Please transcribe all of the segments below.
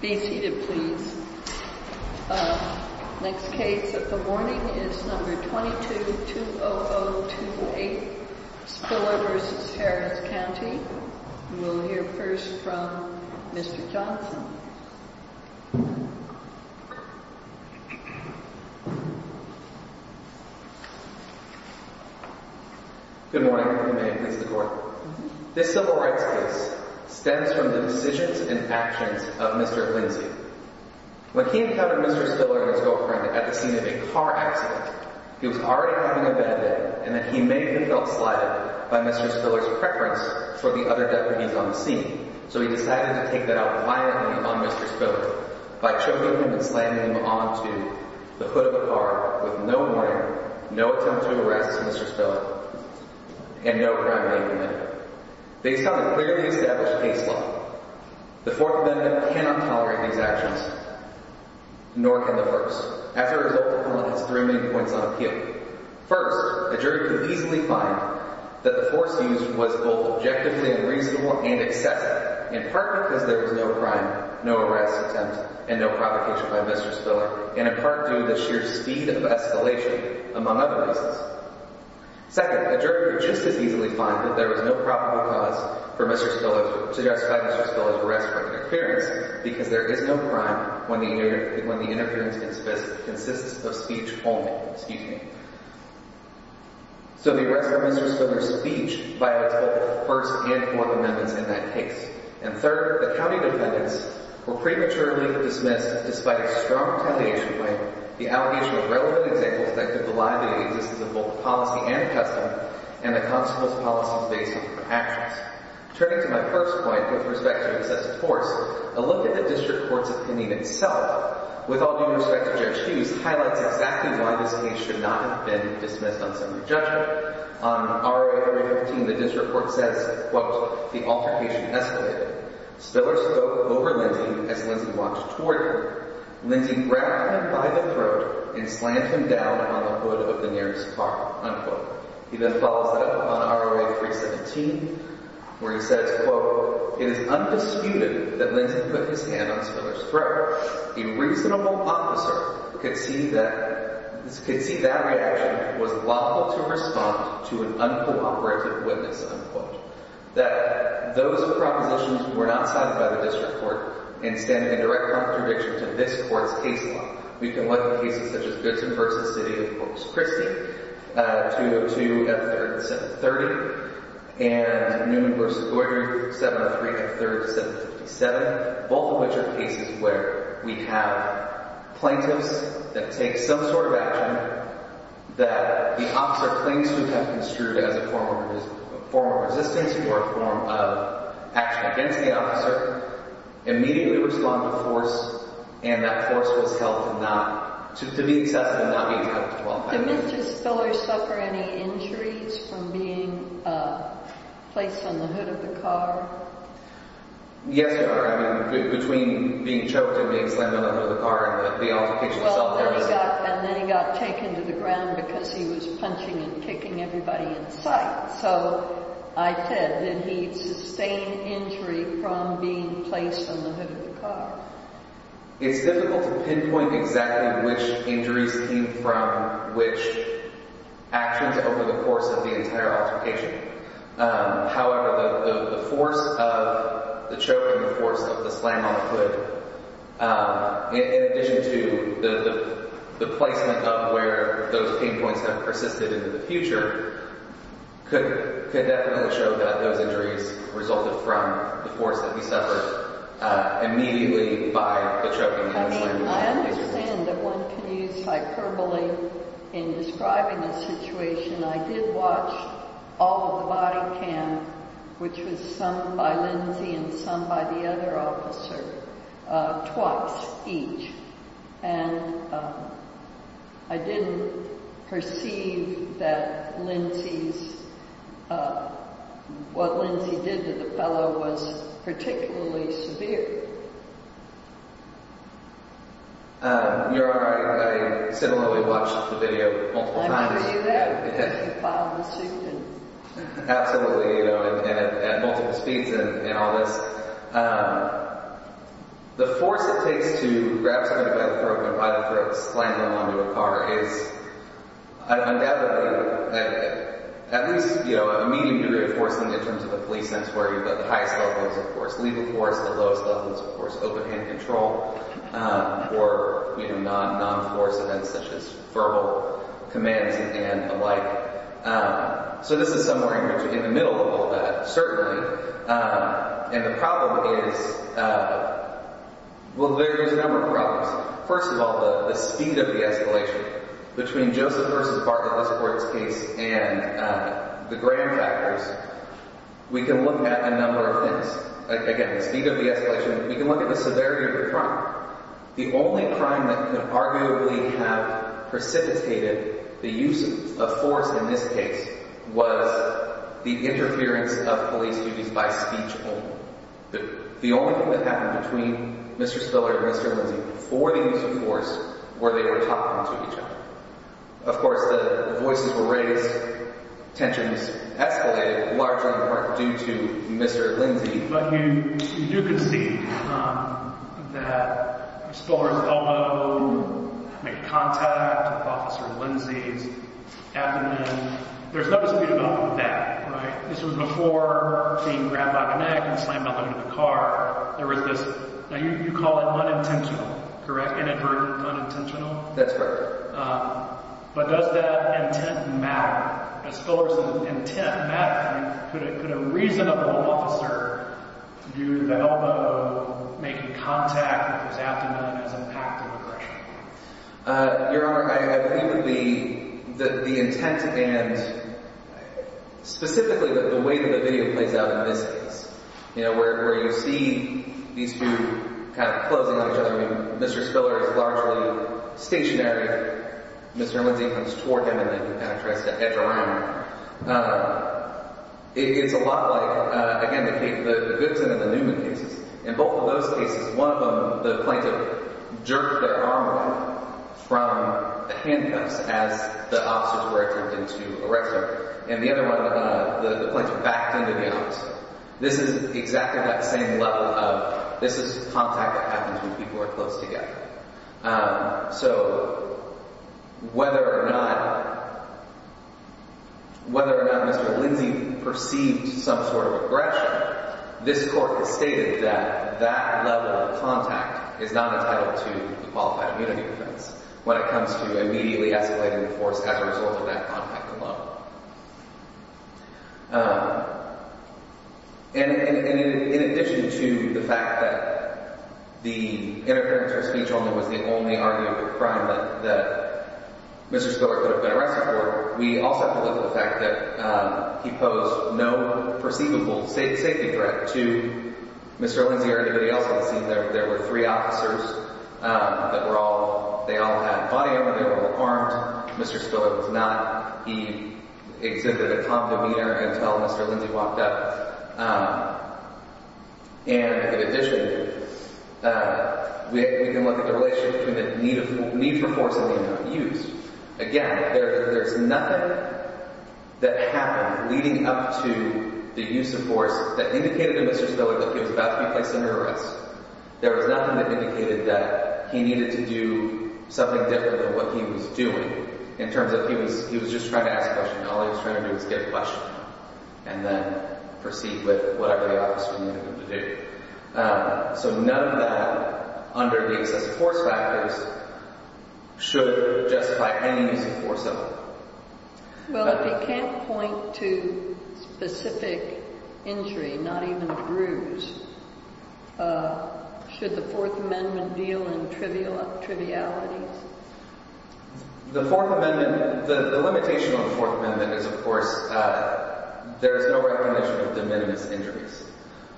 Uhmheaded. Yeah. Yeah. Mhm. Do we got the audience? Four That one. Be seated please. Uh, next case of the morning is number 22 to 08. Spillers Harris County. We'll hear first from Mr Johnson. Good morning. This civil rights case stems from the decisions and actions of Mr Quincy. When he encountered Mr Spiller, his girlfriend at the scene of a car accident, he was already having a bad day and that he may have been felt slighted by Mr Spillers preference for the other deputies on the scene. So he decided to take that out quietly on Mr Spillers by choking him and slamming him onto the foot of the car with no warning, no attempt to arrest Mr Spillers and no crime being committed. Based on a clearly established case the fourth amendment cannot tolerate these actions, nor can the first. As a result, three main points on appeal. First, a jury could easily find that the force used was both objectively unreasonable and excessive in part because there was no crime, no arrest attempt and no provocation by Mr Spiller and in part due to the sheer speed of escalation among other reasons. Second, a jury could just as easily find that there was arrest for interference because there is no crime when the interference consists of speech only, excuse me. So the arrest for Mr Spillers speech violates both the first and fourth amendments in that case. And third, the county defendants were prematurely dismissed despite a strong retaliation point. The allegations were relevant examples that could belie the existence of both policy and custom and the excessive force. A look at the district court's opinion itself with all due respect to Judge Hughes highlights exactly why this case should not have been dismissed on summary judgment. On ROA 315, the district court says, quote, the altercation escalated. Spillers spoke over Lindsay as Lindsay walked toward her. Lindsay grabbed him by the throat and slammed him down on the hood of the nearest car, unquote. He then follows that up on ROA 317 where he says, quote, it is undisputed that Lindsay put his hand on Spillers throat. A reasonable officer could see that could see that reaction was lawful to respond to an uncooperative witness, unquote, that those propositions were not cited by the district court. Instead, a direct contradiction to this court's case law. We can look at cases such as noon versus 7 3 7 57, both of which are cases where we have plaintiffs that take some sort of action that the officer claims to have construed as a former former resistance or a form of action against the officer immediately respond to force and that force was held to not to be accessible. Not being uh, place on the hood of the car. Yes, between being choked and being slammed under the car and the altercation itself. And then he got taken to the ground because he was punching and kicking everybody in sight. So I said that he sustained injury from being placed on the hood of the car. It's difficult to pinpoint exactly which actions over the course of the entire altercation. However, the force of the choke and the force of the slam on the hood. Um, in addition to the placement of where those pain points have persisted into the future, could could definitely show that those injuries resulted from the force that immediately by the choke and slam. I understand that one can use hyperbole in describing a situation. I did watch all of the body cam, which was some by Lindsay and some by the other officer twice each. And, uh, I didn't perceive that Lindsay's, uh, what Lindsay did to the fellow was particularly severe. Um, you're right. I similarly watched the video multiple times. Absolutely. At multiple speeds and all this, um, the force it takes to grab by the throat slamming onto a car is undoubtedly at least, you know, a medium degree of forcing in terms of the police sense where you've got the highest levels of force, legal force, the lowest levels of force, open hand control, or, you know, non non force events such as verbal commands and alike. Um, so this is somewhere in the middle of all that, certainly. Um, and the problem is, uh, well, there's a number of problems. First of all, the speed of the escalation between Joseph versus Bartlett Westport's case and the grand factors, we can look at a number of things. Again, the speed of the escalation, we can look at the severity of the crime. The only crime that could arguably have precipitated the use of force in this case was the the only thing that happened between Mr. Spiller and Mr. Lindsay before the use of force where they were talking to each other. Of course, the voices were raised. Tensions escalated, largely in part due to Mr. Lindsay. But you do concede, um, that Spiller's elbow made contact with Officer Lindsay's abdomen. There's no dispute about that, right? This was before being grabbed by the car. There was this, now you call it unintentional, correct? Inadvertent, unintentional. That's right. Um, but does that intent matter as Spiller's intent matter? I mean, could it could a reasonable officer use the elbow making contact with his abdomen as impact of aggression? Uh, Your Honor, I believe that the intent and specifically the way that the video plays out in this you know, where you see these two kind of closing on each other. I mean, Mr. Spiller is largely stationary. Mr. Lindsay comes toward him and then kind of tries to edge around. Uh, it's a lot like, again, the case, the Goodson and the Newman cases. In both of those cases, one of them, the plaintiff jerked their arm from the handcuffs as the officers were attempting to arrest her. And the other one, the plaintiff backed into the opposite. This is exactly that same level of, this is contact that happens when people are close together. Um, so whether or not, whether or not Mr. Lindsay perceived some sort of aggression, this court has stated that that level of contact is not entitled to the qualified immunity defense when it comes to immediately escalating the force as a result of that contact alone. Uh, and in addition to the fact that the interference or speech only was the only argument of crime that Mr. Spiller could have been arrested for, we also believe the fact that he posed no perceivable safety threat to Mr. Lindsay or anybody else on the scene. There were three officers, um, that he exhibited a condominer until Mr. Lindsay walked up. Um, and in addition, uh, we can look at the relationship between the need for force and the amount of use. Again, there's nothing that happened leading up to the use of force that indicated to Mr. Spiller that he was about to be placed under arrest. There was nothing that indicated that he needed to do something different than what he was doing in terms of he was, he was just trying to ask a question. All he was trying to do was get a question and then proceed with whatever the officer needed him to do. Um, so none of that under the excessive force factors should justify any use of force at all. Well, if you can't point to specific injury, not even a bruise, uh, should the Fourth Amendment deal in trivial trivialities? The Fourth Amendment, the limitation on the Fourth Amendment is, of course, uh, there is no recognition of the minimus injuries.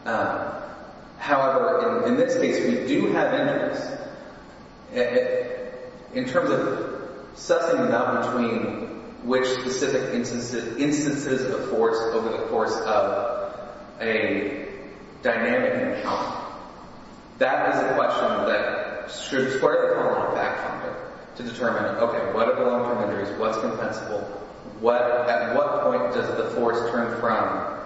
Um, however, in this case, we do have minimus. In terms of sussing them out between which specific instances of force over the course of a dynamic encounter, that is a question that should square the corner on fact-finding to determine, okay, what are the long-term injuries? What's compensable? What, at what point does the force turn from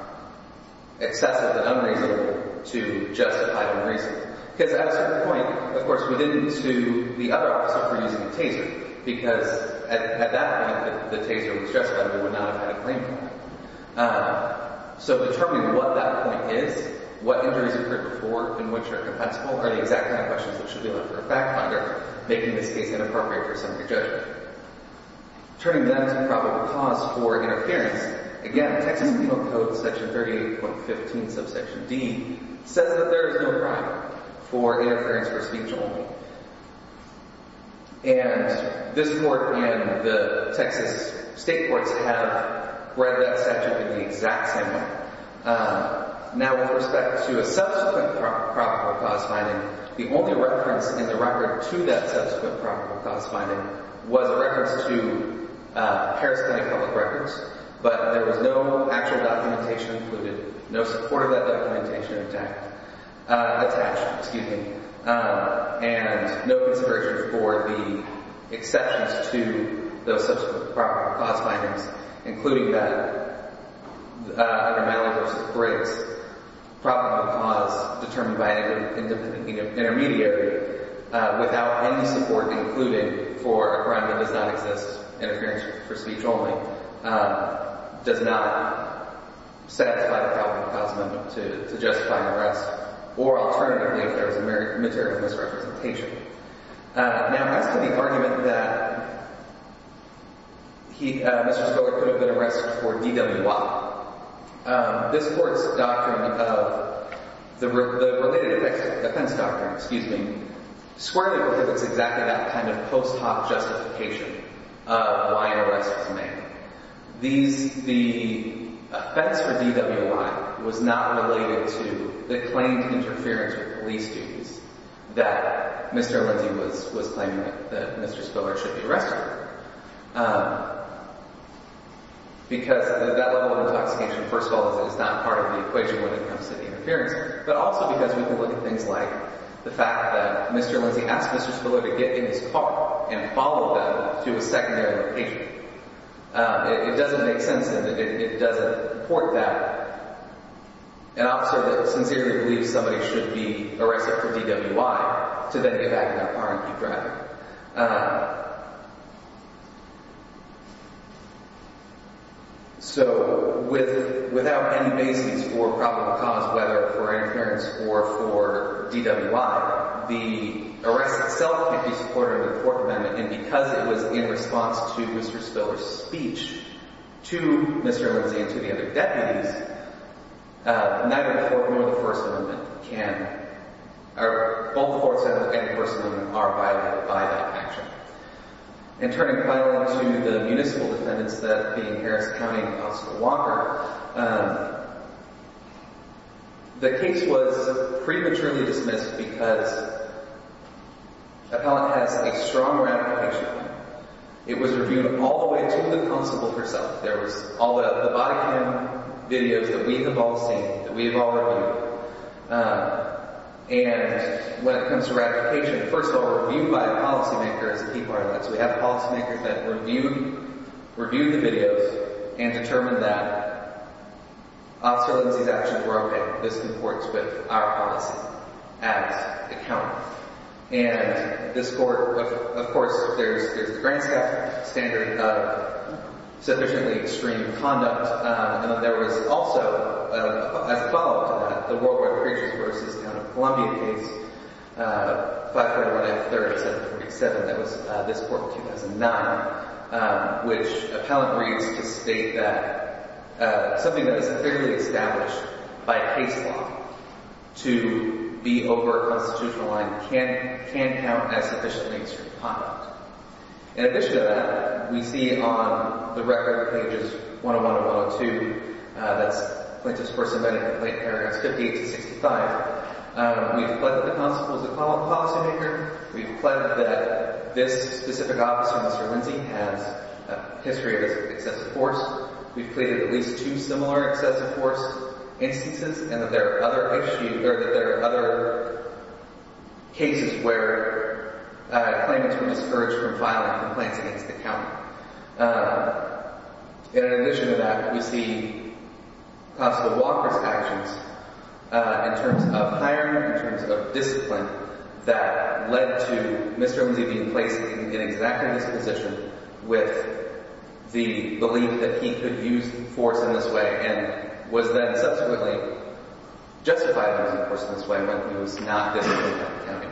excessive and unreasonable to justified and reasonable? Because at a certain point, of course, we didn't sue the other officer for using a taser because at that point, the claimant, uh, so determining what that point is, what injuries occurred before and which are compensable are the exact kind of questions that should be left for a fact-finder, making this case inappropriate for a subject judge. Turning them to probable cause for interference, again, Texas Penal Code Section 38.15 subsection D says that there is no crime for interference or speech only. And this court and the Texas state courts have read that statute in the exact same way. Now, with respect to a subsequent probable cause finding, the only reference in the record to that subsequent probable cause finding was a reference to Harris County Public Records, but there was no actual documentation included, no support of that documentation attached, uh, attached, excuse me, um, and no consideration for the exceptions to those subsequent probable cause findings, including that, uh, under Malley v. Briggs, probable cause determined by any intermediary, uh, without any support included for a crime that does not exist as interference for speech only, um, does not satisfy the probable cause amendment to justify an arrest, or alternatively, if there was a material misrepresentation. Uh, now, as to the argument that he, uh, Mr. Spoda could have been arrested for DWI, um, this court's doctrine of, the related defense doctrine, excuse me, squarely prohibits exactly that kind of post hoc justification. Uh, why an arrest was made. These, the offense for DWI was not related to the claimed interference with police duties that Mr. Lindsey was, was claiming that Mr. Spoda should be arrested, um, because that level of intoxication, first of all, is not part of the equation when it comes to the interference, but also because we can look at things like the fact that Mr. Lindsey asked Mr. Spoda to get in his car and follow them to a secondary location. Uh, it, it doesn't make sense that it, it doesn't support that an officer that sincerely believes somebody should be arrested for DWI to then get back in their car and keep driving. Uh, so with, without any basis for probable cause, whether for interference or for DWI, the arrest itself can't be supported under the Fourth Amendment and because it was in response to Mr. Spoda's speech to Mr. Lindsey and to the other deputies, uh, neither the Fourth nor the First Amendment can, or both the Fourth Amendment and the First Amendment are violated by that action. And turning finally to the municipal defendants, that being Harris County and Constable Walker, um, the case was prematurely dismissed because the appellant has a strong ratification. It was reviewed all the way to the constable herself. There was all the, the body cam videos that we have all seen, that we have all reviewed. Um, and when it comes to ratification, first of all, reviewed by a policymaker is a key part of this. So we have policymakers that reviewed, reviewed the videos and determined that Officer Lindsey's actions were okay. This comports with our policy as a county. And this court, of course, there's, there's the grand standard of sufficiently extreme conduct. Um, and there was also a follow up to that, the Worldwide Creatures versus the County of Columbia case. Uh, 541F3747, that was this court in 2009. Um, which appellant reads to state that, uh, something that is configuredly established by case law to be over a constitutional line can't, can't count as sufficiently extreme conduct. In addition to that, we see on the record pages 101 and 102, uh, that's whether the constable is a policymaker. We've pledged that this specific officer, Mr. Lindsey, has a history of excessive force. We've pleaded at least two similar excessive force instances and that there are other issues, or that there are other cases where, uh, claimants were discouraged from filing complaints against the county. Uh, in addition to that, we see Constable Walker's actions, uh, in terms of hiring, in terms of discipline, that led to Mr. Lindsey being placed in exactly this position with the belief that he could use force in this way and was then subsequently justified in using force in this way when he was not disciplined by the county.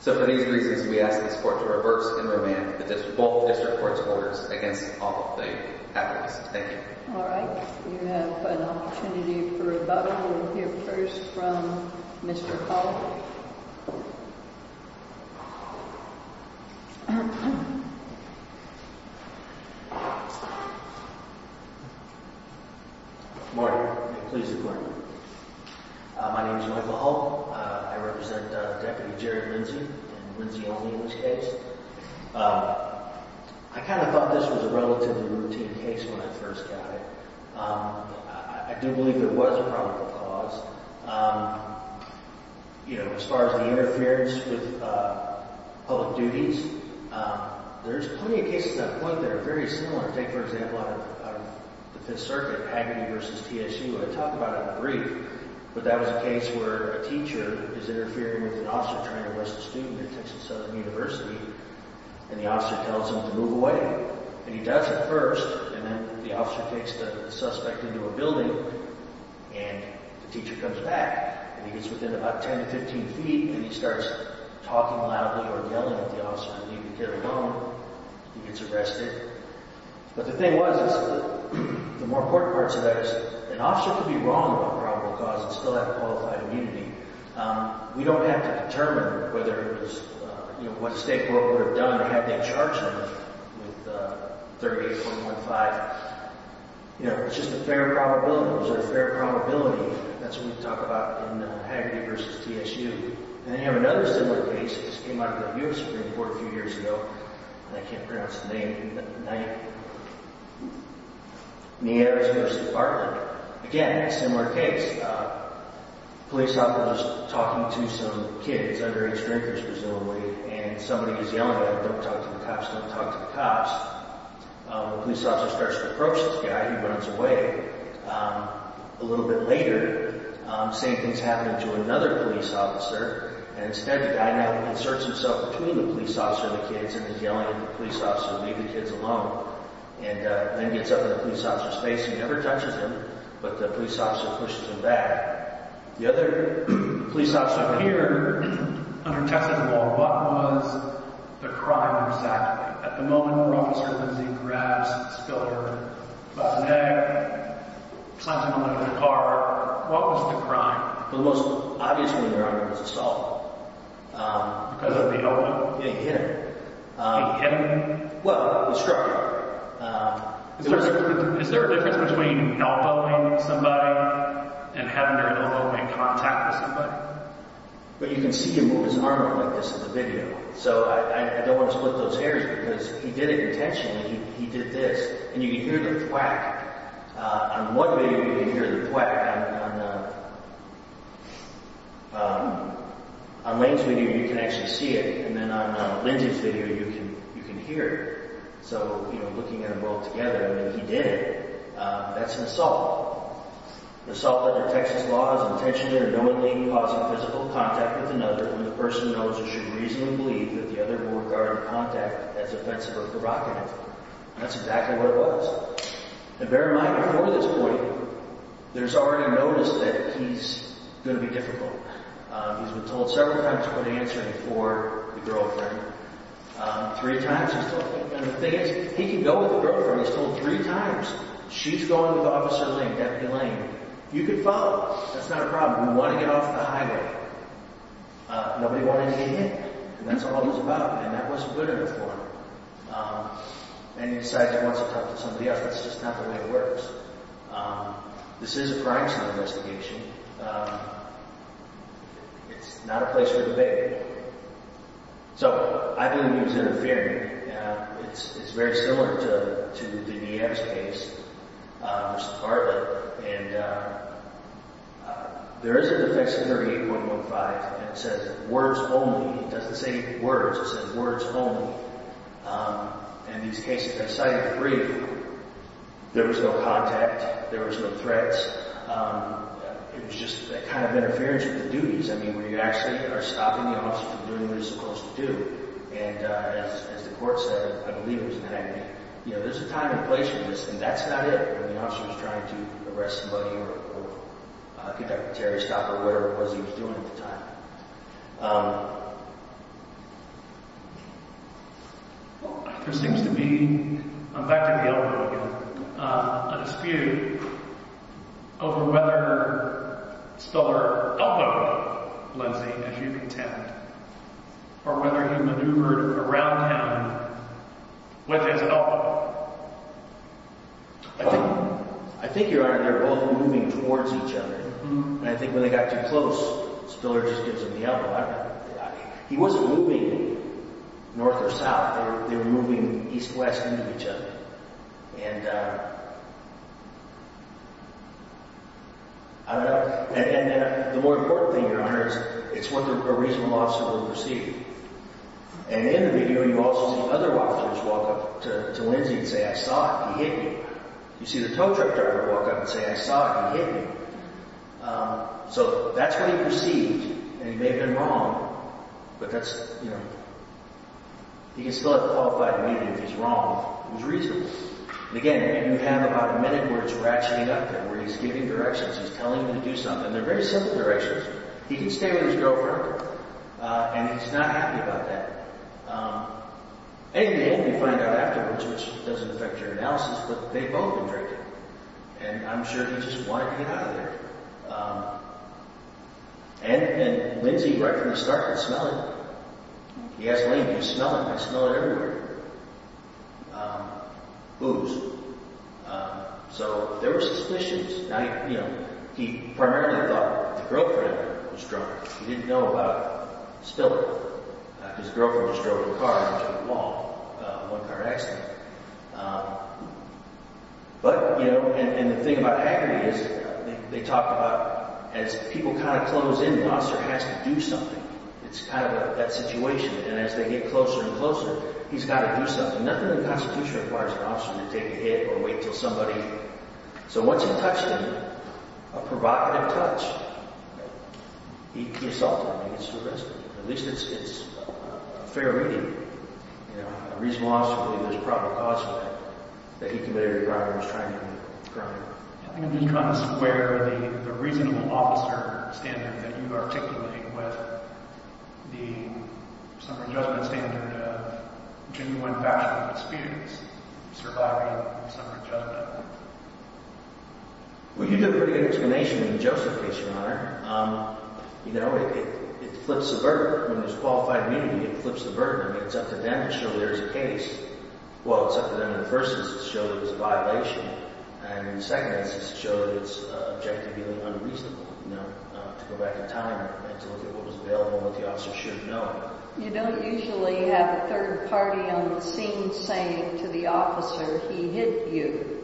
So for these reasons, we ask this court to reverse and remand both district court's orders against all of the applicants. Thank you. All right. We have an opportunity for rebuttal. We'll hear first from Mr. Hull. Morning. Pleased to be here. My name is Michael Hull. I represent Deputy Jerry Lindsey and Lindsey on the English case. Um, I kind of thought this was a relatively routine case when I first got it. Um, I do believe there was a probable cause. Um, you know, as far as the interference with, uh, public duties, um, there's plenty of cases at that point that are very similar. Take, for example, out of the Fifth Circuit, Pagany versus TSU. I talk about it in a brief, but that was a case where a teacher is and the officer tells him to move away. And he does it first, and then the officer takes the suspect into a building, and the teacher comes back. And he gets within about 10 to 15 feet, and he starts talking loudly or yelling at the officer to leave and carry on. He gets arrested. But the thing was is that the more important parts of that is an officer could be wrong about probable cause and still have Um, we don't have to determine whether it was, you know, what the state court would have done to have that charge on him with, uh, 38-415. You know, it's just a fair probability. It was a fair probability. That's what we talk about in, uh, Pagany versus TSU. And then we have another similar case. This came out of the U.S. Supreme Court a few years ago. And I can't pronounce the name. The 9th. Meadows versus Bartlett. Again, a similar case. Uh, a police officer was talking to some kid. Underage drinkers, presumably. And somebody was yelling at him, don't talk to the cops. Don't talk to the cops. Um, the police officer starts to approach this guy. He runs away. Um, a little bit later, um, same thing's happening to another police officer. And instead, the guy now inserts himself between the police officer and the kids. And he's yelling at the police officer, leave the kids alone. And, uh, then gets up in the police officer's face and never touches him. But the police officer pushes him back. The other police officer here, under test of the law, what was the crime exactly? At the moment, Officer Lindsey grabs this killer by the neck. Slams him under the car. What was the crime? The most obvious one there, I think, was assault. Um, because of the elbow? Yeah, he hit him. Um. He hit him? Um. Is there a difference between not abusing somebody and having their head cut off? I don't know if I'm in contact with somebody. But you can see him move his arm around like this in the video. So I don't want to split those hairs because he did it intentionally. He did this. And you can hear the thwack. On one video, you can hear the thwack. Um. On Wayne's video, you can actually see it. And then on Lindsey's video, you can hear it. So, you know, looking at them both together, I mean, he did it. That's an assault. Assault under Texas law is intentionally or knowingly causing physical contact with another when the person knows or should reasonably believe that the other will regard the contact as offensive or provocative. And that's exactly what it was. And bear in mind, before this point, there's already a notice that he's going to be difficult. He's been told several times to quit answering for the girlfriend. Three times he's told. And the thing is, he can go with the girlfriend. He's told three times. She's going with Officer Lane, Deputy Lane. You can follow us. That's not a problem. We want to get off the highway. Nobody wanted to get hit. And that's what all this is about. And that wasn't good enough for him. And he decides he wants to talk to somebody else. That's just not the way it works. This is a crime scene investigation. Um. It's not a place for debate. So, I believe he was interfering. It's very similar to the DM's case. Mr. Bartlett. And, um. There is a defection under 8.15 that says words only. It doesn't say words. It says words only. Um. In these cases, I cited three of them. There was no contact. There was no threats. It was just a kind of interference with the duties. I mean, when you actually are stopping the officer from doing what he's supposed to do. And, uh, as the court said, I believe it was 9 a.m. You know, there's a time and place for this, and that's not it. When the officer was trying to arrest somebody or get that carry stop or whatever it was he was doing at the time. Um. There seems to be I'm back to the elbow again um, a dispute over whether Stuller elbowed Lindsey, as you contend. Or whether he maneuvered around him with his elbow. I think I think, Your Honor, they were both moving towards each other. And I think when they got too close, Stuller just gives him the elbow. I don't know. He wasn't moving north or south. They were moving east-west I don't know. And the more important thing, Your Honor, is it's what a reasonable officer will perceive. And in the video you also see other officers walk up to Lindsey and say, I saw it, he hit me. You see the tow truck driver walk up and say, I saw it, he hit me. Um, so that's what he perceived, and he may have been wrong. But that's, you know, he can still have the qualified opinion if he's wrong. It was reasonable. And again, you have about a minute where it's ratcheting up where he's giving directions, he's telling them to do something. And they're very simple directions. He didn't stay with his girlfriend, and he's not happy about that. And again, you find out afterwards, which doesn't affect your analysis, but they've both been drinking. And I'm sure he just wanted to get out of there. And Lindsey, right from the start could smell it. He asked, Lane, do you smell it? I smell it everywhere. Booze. So there were suspicions. Now, you know, he primarily thought his girlfriend was drunk. He didn't know about spilling. His girlfriend just drove her car into the wall. One car accident. But, you know, and the thing about agony is they talk about, as people kind of close in, the officer has to do something. It's kind of that situation. And as they get closer and closer, he's got to do something. Nothing in the Constitution requires an officer to take a hit or wait till somebody So once he touched her, a provocative touch, he consulted her. At least it's a fair reading. A reasonable officer would believe there's a proper cause for that, that he committed a crime when he was trying to commit a crime. I'm just trying to square the reasonable officer standard that you articulate with the summary judgment standard of genuine factual disputes. Surviving the summary judgment. Well, you give a pretty good explanation in the Joseph case, Your Honor. You know, it flips the burden when there's qualified immunity, it flips the burden. I mean, it's up to them to show there's a case. Well, it's up to them in the first instance to show that it was a violation, and in the second instance to show that it's objectively unreasonable, you know, to go back in time and to look at what was available and what the officer should have known. You don't usually have a third party on the scene saying to the officer he hit you.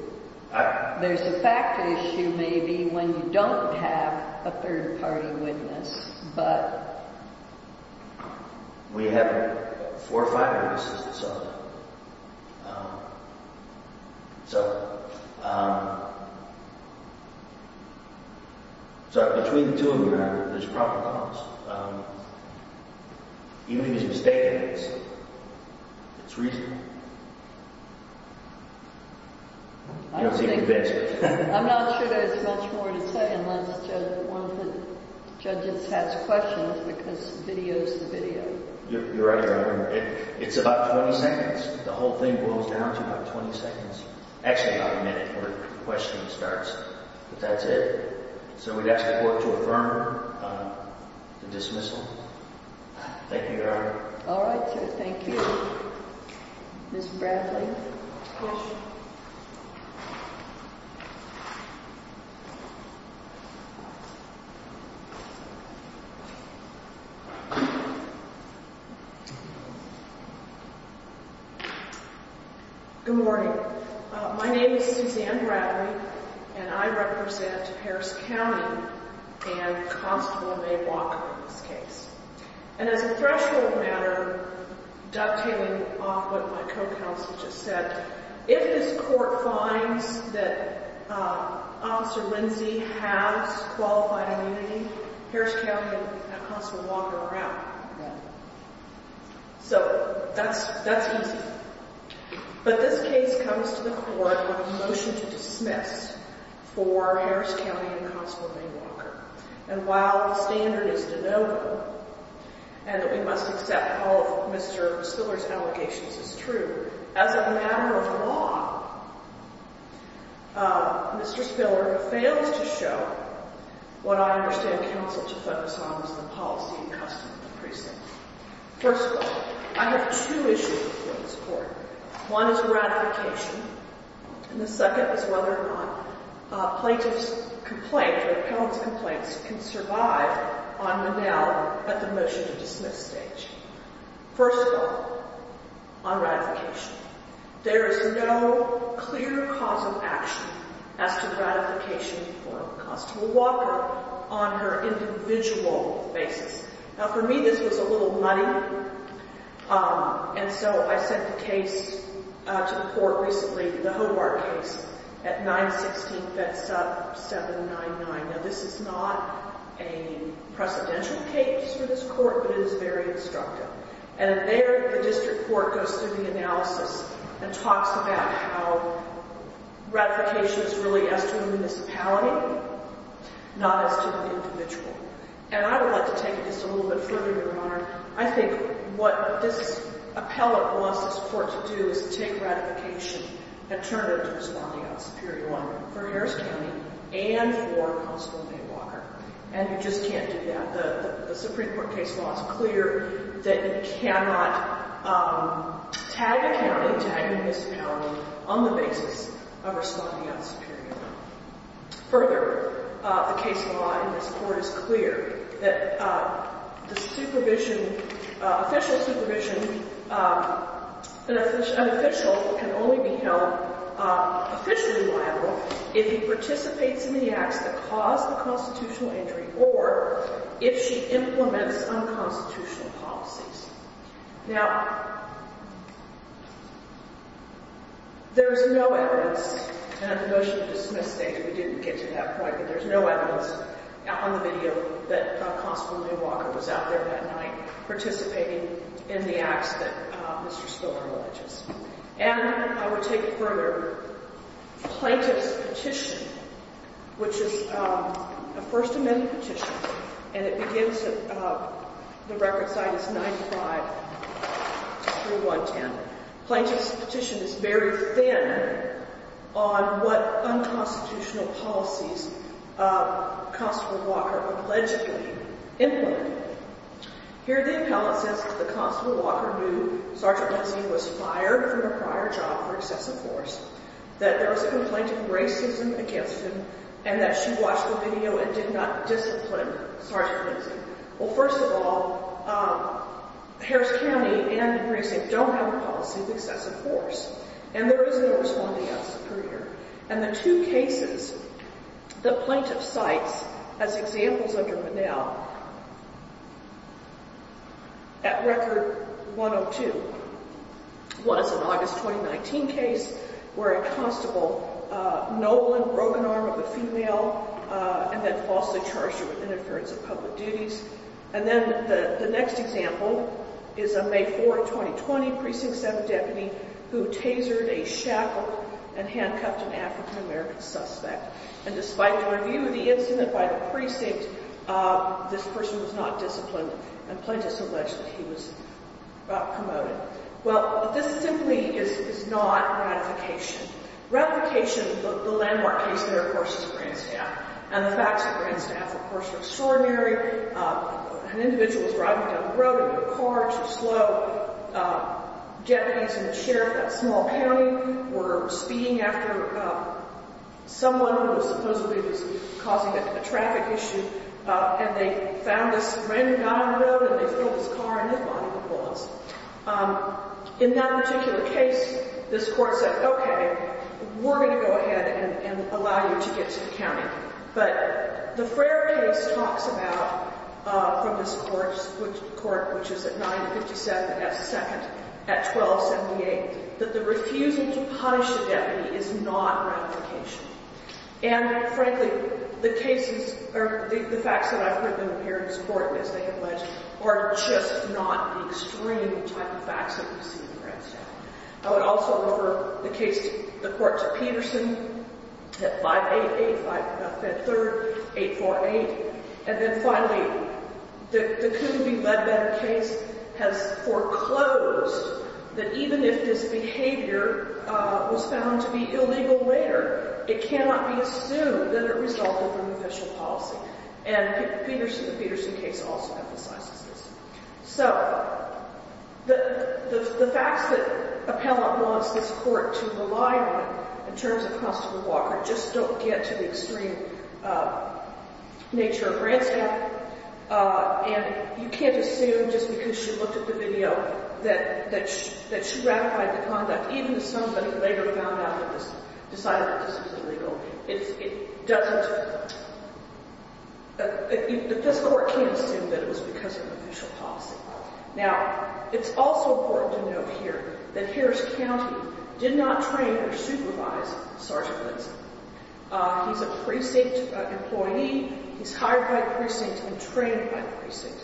There's a factor issue maybe when you don't have a third party witness, but... We have four or five witnesses that saw that. So, between the two of them, there's a proper cause. Even if he's mistaken, it's reasonable. I'm not sure there's much more to say unless one of the judges has questions because video's the video. You're right, Your Honor. It's about 20 seconds. The whole thing boils down to about 20 seconds. Actually, about a minute where the question starts. But that's it. So we'd ask the court to affirm the dismissal. Thank you, Your Honor. Alright, thank you. Ms. Bradley. Good morning. My name is Suzanne Bradley and I represent Harris County and Constable May Walker in this case. And as a threshold matter, dovetailing off what my co-counsel just said, if this court finds that Officer Lindsey has qualified immunity, Harris County and Constable Walker are out. So, that's easy. But this case comes to the court with a motion to dismiss for Harris County and Constable May Walker. And while the standard is de novo, and that we must accept all of Mr. Spiller's allegations as true, as a matter of law, Mr. Spiller fails to show what I understand counsel to focus on as the policy and custom of the precinct. First of all, I have two issues for this court. One is ratification and the second is whether or not a plaintiff's complaint or an appellant's complaint can survive on the now at the motion to dismiss stage. First of all, on ratification, there is no clear cause of action as to ratification for Constable Walker on her individual basis. Now for me this was a little muddy and so I sent the case to the court recently, the Hobart case at 916 Fed Sub 799. Now this is not a precedential case for this court, but it is very instructive. And there the district court goes through the analysis and talks about how ratification is really as to a municipality not as to an individual. And I would like to take this a little bit further, Your Honor. I think what this appellant wants this court to do is take ratification and turn it to Responding Out Superior Law for Harris County and for Constable May Walker. And you just can't do that. The Supreme Court case law is clear that you cannot tag a county, tag a municipality on the basis of Responding Out Superior Law. Further, the case law in this court is clear that the supervision official supervision an official can only be held officially liable if he participates in the acts that cause the constitutional injury or if she implements unconstitutional policies. Now there is no evidence at the motion to dismiss stage, we didn't get to that point but there is no evidence on the video that Constable May Walker was out there that night participating in the acts that Mr. Spiller alleges. And I will take it further Plaintiff's Petition which is a First Amendment petition and it begins at the record site is 95 3-1-10 Plaintiff's Petition is very thin on what unconstitutional policies Constable Walker allegedly implemented. Here the appellant says that the Constable Walker knew Sgt. Lindsey was fired from her prior job for excessive force that there was a complaint of racism against him and that she watched the video and did not discipline Sgt. Lindsey Well first of all Harris County and the precinct don't have a policy of excessive force and there is no responding as superior and the two cases that Plaintiff cites as examples under Manel at record 102 was an August 2019 case where a constable nobly broke an arm of a female and then falsely charged her with interference of public duties and then the next example is a May 4, 2020 Precinct 7 deputy who tasered a shackle and handcuffed an African American suspect and despite the review of the incident by the precinct this person was not disciplined and Plaintiff's alleged that he was promoted. Well this simply is not ratification Ratification of the landmark case there of course is Grandstaff and the facts of Grandstaff of course are extraordinary an individual was driving down the road in a car too slow Japanese and the sheriff of that small county were speaking after someone supposedly was causing a traffic issue and they found this random guy on the road and they filled his car and they fired the bullets in that particular case this court said okay we're going to go ahead and allow you to get to the county but the Frayer case talks about from this court which is at 957 S 2nd at 1278 that the refusing to punish the deputy is not ratification and frankly the cases or the facts that I've heard in this court as they have alleged are just not the extreme type of facts that we see in Grandstaff I would also refer the case the court to Peterson at 588 3rd, 848 and then finally the couldn't be led better case has foreclosed that even if this behavior was found to be illegal later it cannot be assumed that it resulted in official policy and the Peterson case also emphasizes this so the facts that appellant wants this court to rely on in terms of Constable Walker just don't get to the extreme nature of Grandstaff and you can't assume just because she looked at the video that she ratified the conduct even if somebody later found out and decided that this was illegal it doesn't the fiscal court can't assume that it was because of official policy now it's also important to note here that Harris County did not train or supervise Sergeant employee, he's hired by the precinct and trained by the precinct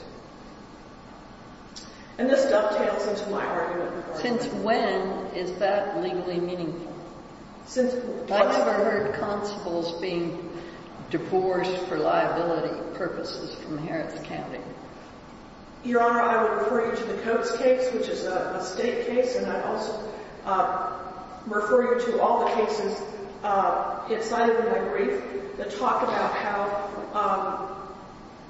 and this dovetails into my argument since when is that legally meaningful? I've heard constables being divorced for liability purposes from Harris County Your Honor I would refer you to the Coates case which is a state case and I'd also refer you to all the cases inside of my brief that talk about how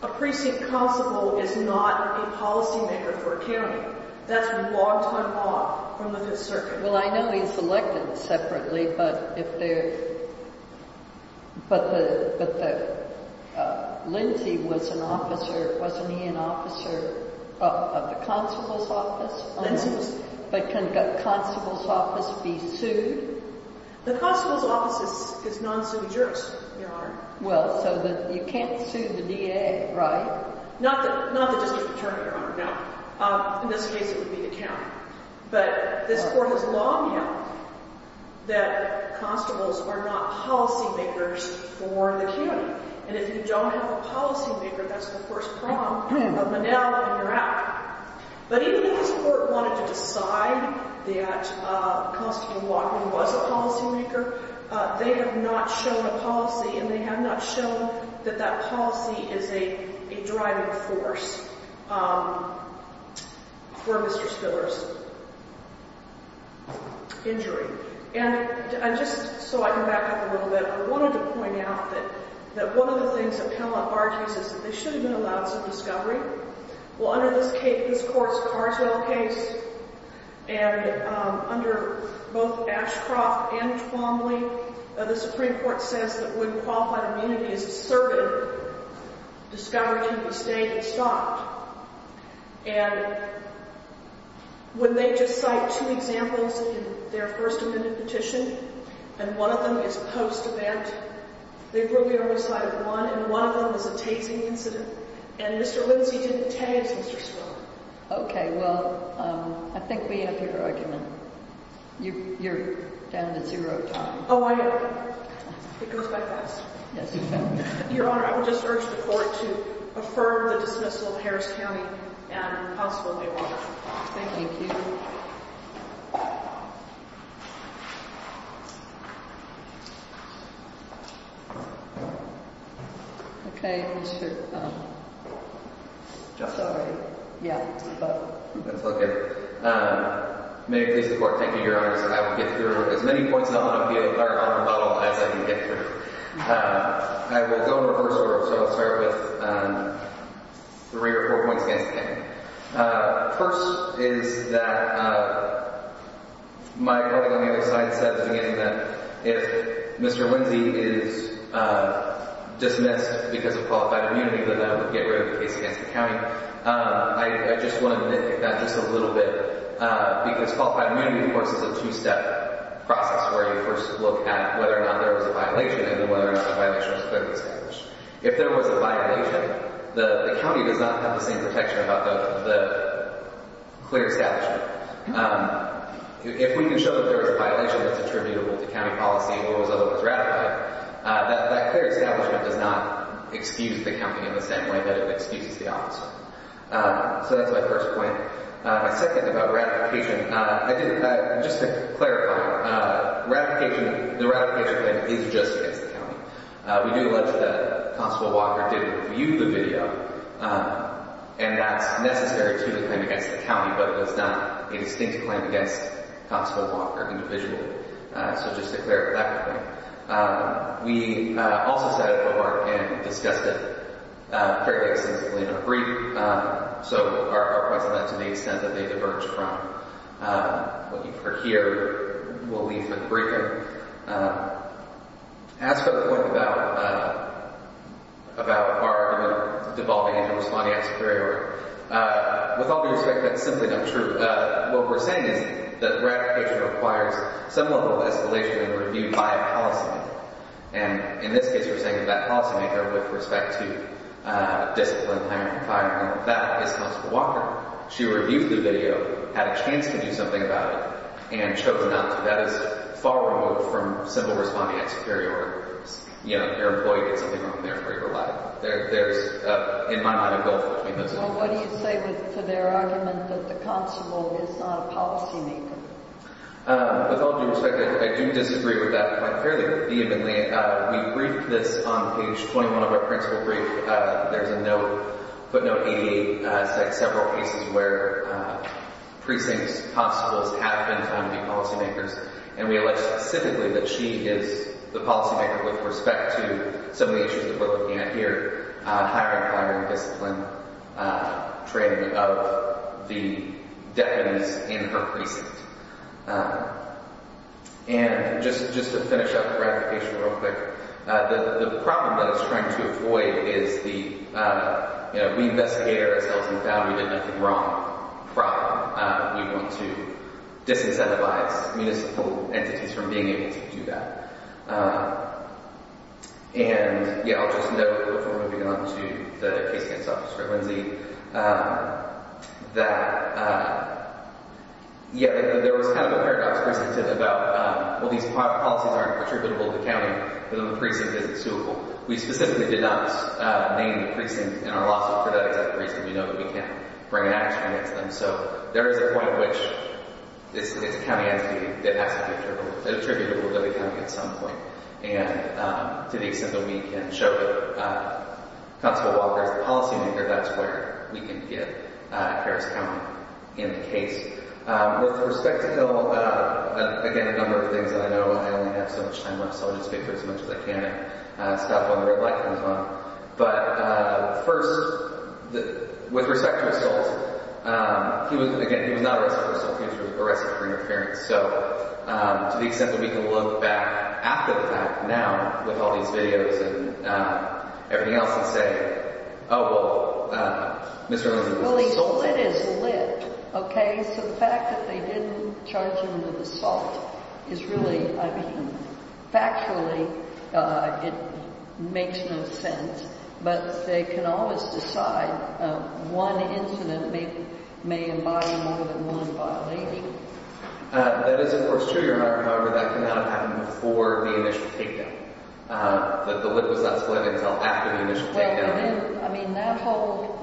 a precinct constable is not a policy maker for a county, that's log time off from the 5th circuit Well I know he's elected separately but if they're but the Lindsey was an officer wasn't he an officer of the constable's office? Lindsey's The constable's office is non-suited jurist, Your Honor Well, so you can't sue the DA right? Not the district attorney, Your Honor, no in this case it would be the county but this court has long known that constables are not policy makers for the county and if you don't have a policy maker that's the first prong of Manel and you're out but even if this court wanted to decide that Constable Walker was a policy maker they have not shown a policy and they have not shown that that policy is a driving force for Mr. Spiller's injury and just so I can back up a little bit I wanted to point out that one of the things that Penelope argues is that they should have been allowed some discovery well under this court's Carswell case and under both Ashcroft and Twombly the Supreme Court says that when qualified immunity is asserted discovery can be stayed and stopped and when they just cite two examples in their first amendment petition and one of them is post-event they've really only cited one and one of them is a tasing incident and Mr. Lindsey didn't tase Mr. Spiller Okay, well I think we have your argument You're down to zero time It goes by fast Your Honor, I would just urge the court to affirm the dismissal of Harris County and Constable Walker Thank you Okay, Mr. Justice That's all good May it please the court Thank you, Your Honor I will get through as many points as I can as I can get through I will go in reverse order so I'll start with three or four points against the county First is that my colleague on the other side said that if Mr. Lindsey is dismissed because of qualified immunity that would get rid of the case against the county I just want to omit that just a little bit because qualified immunity of course is a two-step process where you first look at whether or not there was a violation and then whether or not the violation was clearly established If there was a violation the county does not have the same protection about the clear establishment If we can show that there was a violation that's attributable to county policy or was otherwise ratified That clear establishment does not excuse the county in the same way that it excuses the officer So that's my first point My second about ratification Just to clarify The ratification claim is just against the county We do allege that Constable Walker did view the video and that's necessary to the claim against the county but it was not a distinct claim against Constable Walker individually So just to clarify We also said and discussed it very extensively in a brief So our question to the extent that they diverge from what you heard here we'll leave for the briefing As for the point about about our devolving into responding as superior With all due respect, that's simply not true What we're saying is that ratification requires some level of escalation reviewed by a policymaker and in this case we're saying that that policymaker with respect to discipline, that is Constable Walker She reviewed the video had a chance to do something about it and chose not to That is far removed from simple responding as superior In my mind both Well what do you say for their argument that the constable is not a policymaker With all due respect I do disagree with that quite fairly vehemently We briefed this on page 21 of our principal brief There's a note, footnote 88 several cases where precinct constables have been found to be policymakers and we elect specifically that she is the policymaker with respect to some of the issues that we're looking at here Higher and higher discipline training of the deafens in her precinct And just to finish up the ratification real quick The problem that I was trying to avoid is the we investigated ourselves and found we did nothing wrong We want to disincentivize municipal entities from being able to do that And I'll just note before moving on to the case against Officer Lindsey that there was kind of a paradox about well these policies aren't attributable to the county but the precinct isn't suitable. We specifically did not name the precinct in our lawsuit for that exact reason. We know that we can't bring an action against them so there is a point which it's a county entity that has to be attributable to the county at some point And to the extent that we can show that Constable Walker is the policy maker that's where we can get Harris County in the case With respect to Hill again a number of things that I know I only have so much time left so I'll just speak for as much as I can and stop when the red light comes on But first with respect to assault he was again he was not arrested for assault he was arrested for interference So to the extent that we can look back after the fact now with all these videos and everything else and say oh well Well he's lit as lit okay so the fact that they didn't charge him with assault is really I mean factually it makes no sense but they can always decide one incident may embody more than one violating That is of course true Your Honor however that can only happen before the initial takedown the lit was not split until after the initial takedown I mean that whole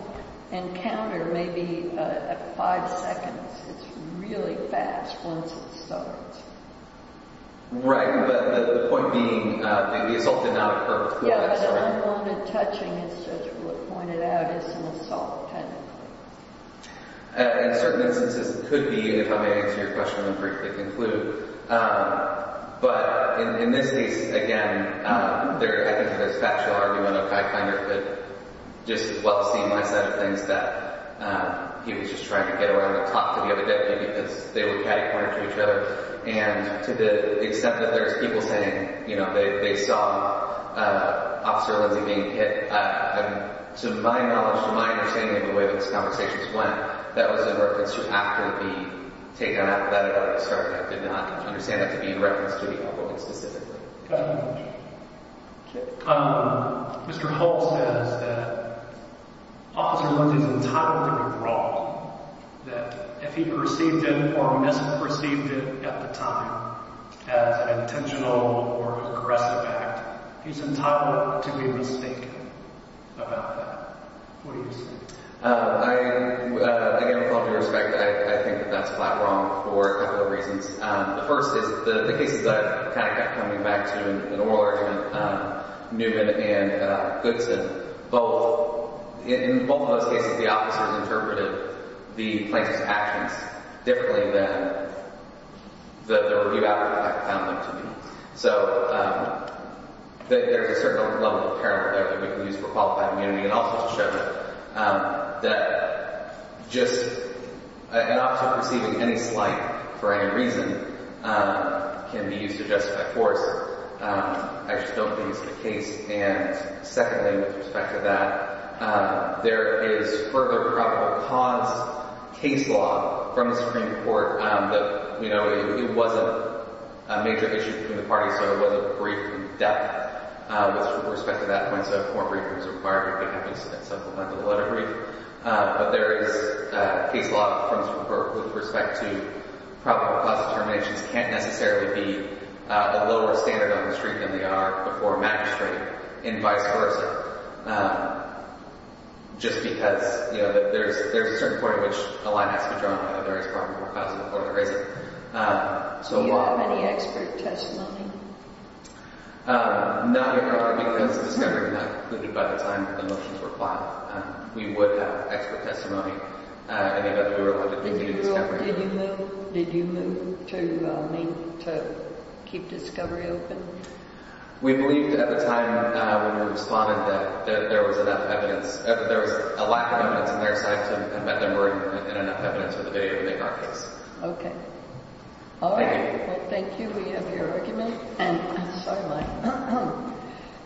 encounter maybe at 5 seconds it's really fast once it starts Right but the point being the assault did not occur Yeah but the unwanted touching as Judge Wood pointed out is an assault technically In certain instances it could be if I may answer your question and briefly conclude but in this case again I think there's a factual argument I kind of could just as well see my side of things that he was just trying to get around and talk to the other deputy because they were catty cornered to each other and to the extent that there's people saying you know they saw Officer Lindsey being hit to my knowledge from my understanding of the way those conversations went that was in reference to after the takedown happened I did not understand that to be in reference to the alcohol incident Mr. Hull says that Officer Lindsey is entitled to be wrong that if he perceived it or misperceived it at the time as an intentional or aggressive act he's entitled to be mistaken about that What do you say? Again with all due respect I think that that's flat wrong for a couple of reasons The first is the cases I've kind of kept coming back to in the oral argument Newman and Goodson in both of those cases the officers interpreted the plaintiff's actions differently than the review outcome I found them to be so that there's a certain level of parallel that we can use for qualified immunity and also to show that that just an officer perceiving any slight for any reason can be used to justify force I just don't think it's the case and secondly with respect to that there is further probable cause case law from the Supreme Court that you know it was a brief in depth with respect to that point so more briefings are required but there is case law from the Supreme Court with respect to probable cause determinations can't necessarily be a lower standard on the street than they are before magistrate and vice versa just because there's a certain point at which a line has to be drawn on the various probable causes Do you have any expert testimony? No because the discovery was not concluded by the time the motions were filed we would have expert testimony in the event that we were allowed to continue the discovery. Did you move to keep discovery open? We believed at the time when we responded that there was enough evidence, there was a lack of evidence on their side to admit that we're in enough evidence for the video to make our case Ok Thank you We have your argument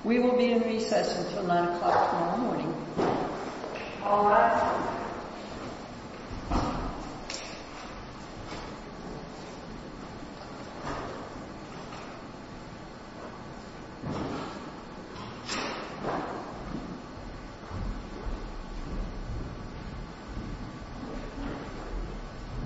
We will be in recess until 9 o'clock tomorrow morning All rise Thank you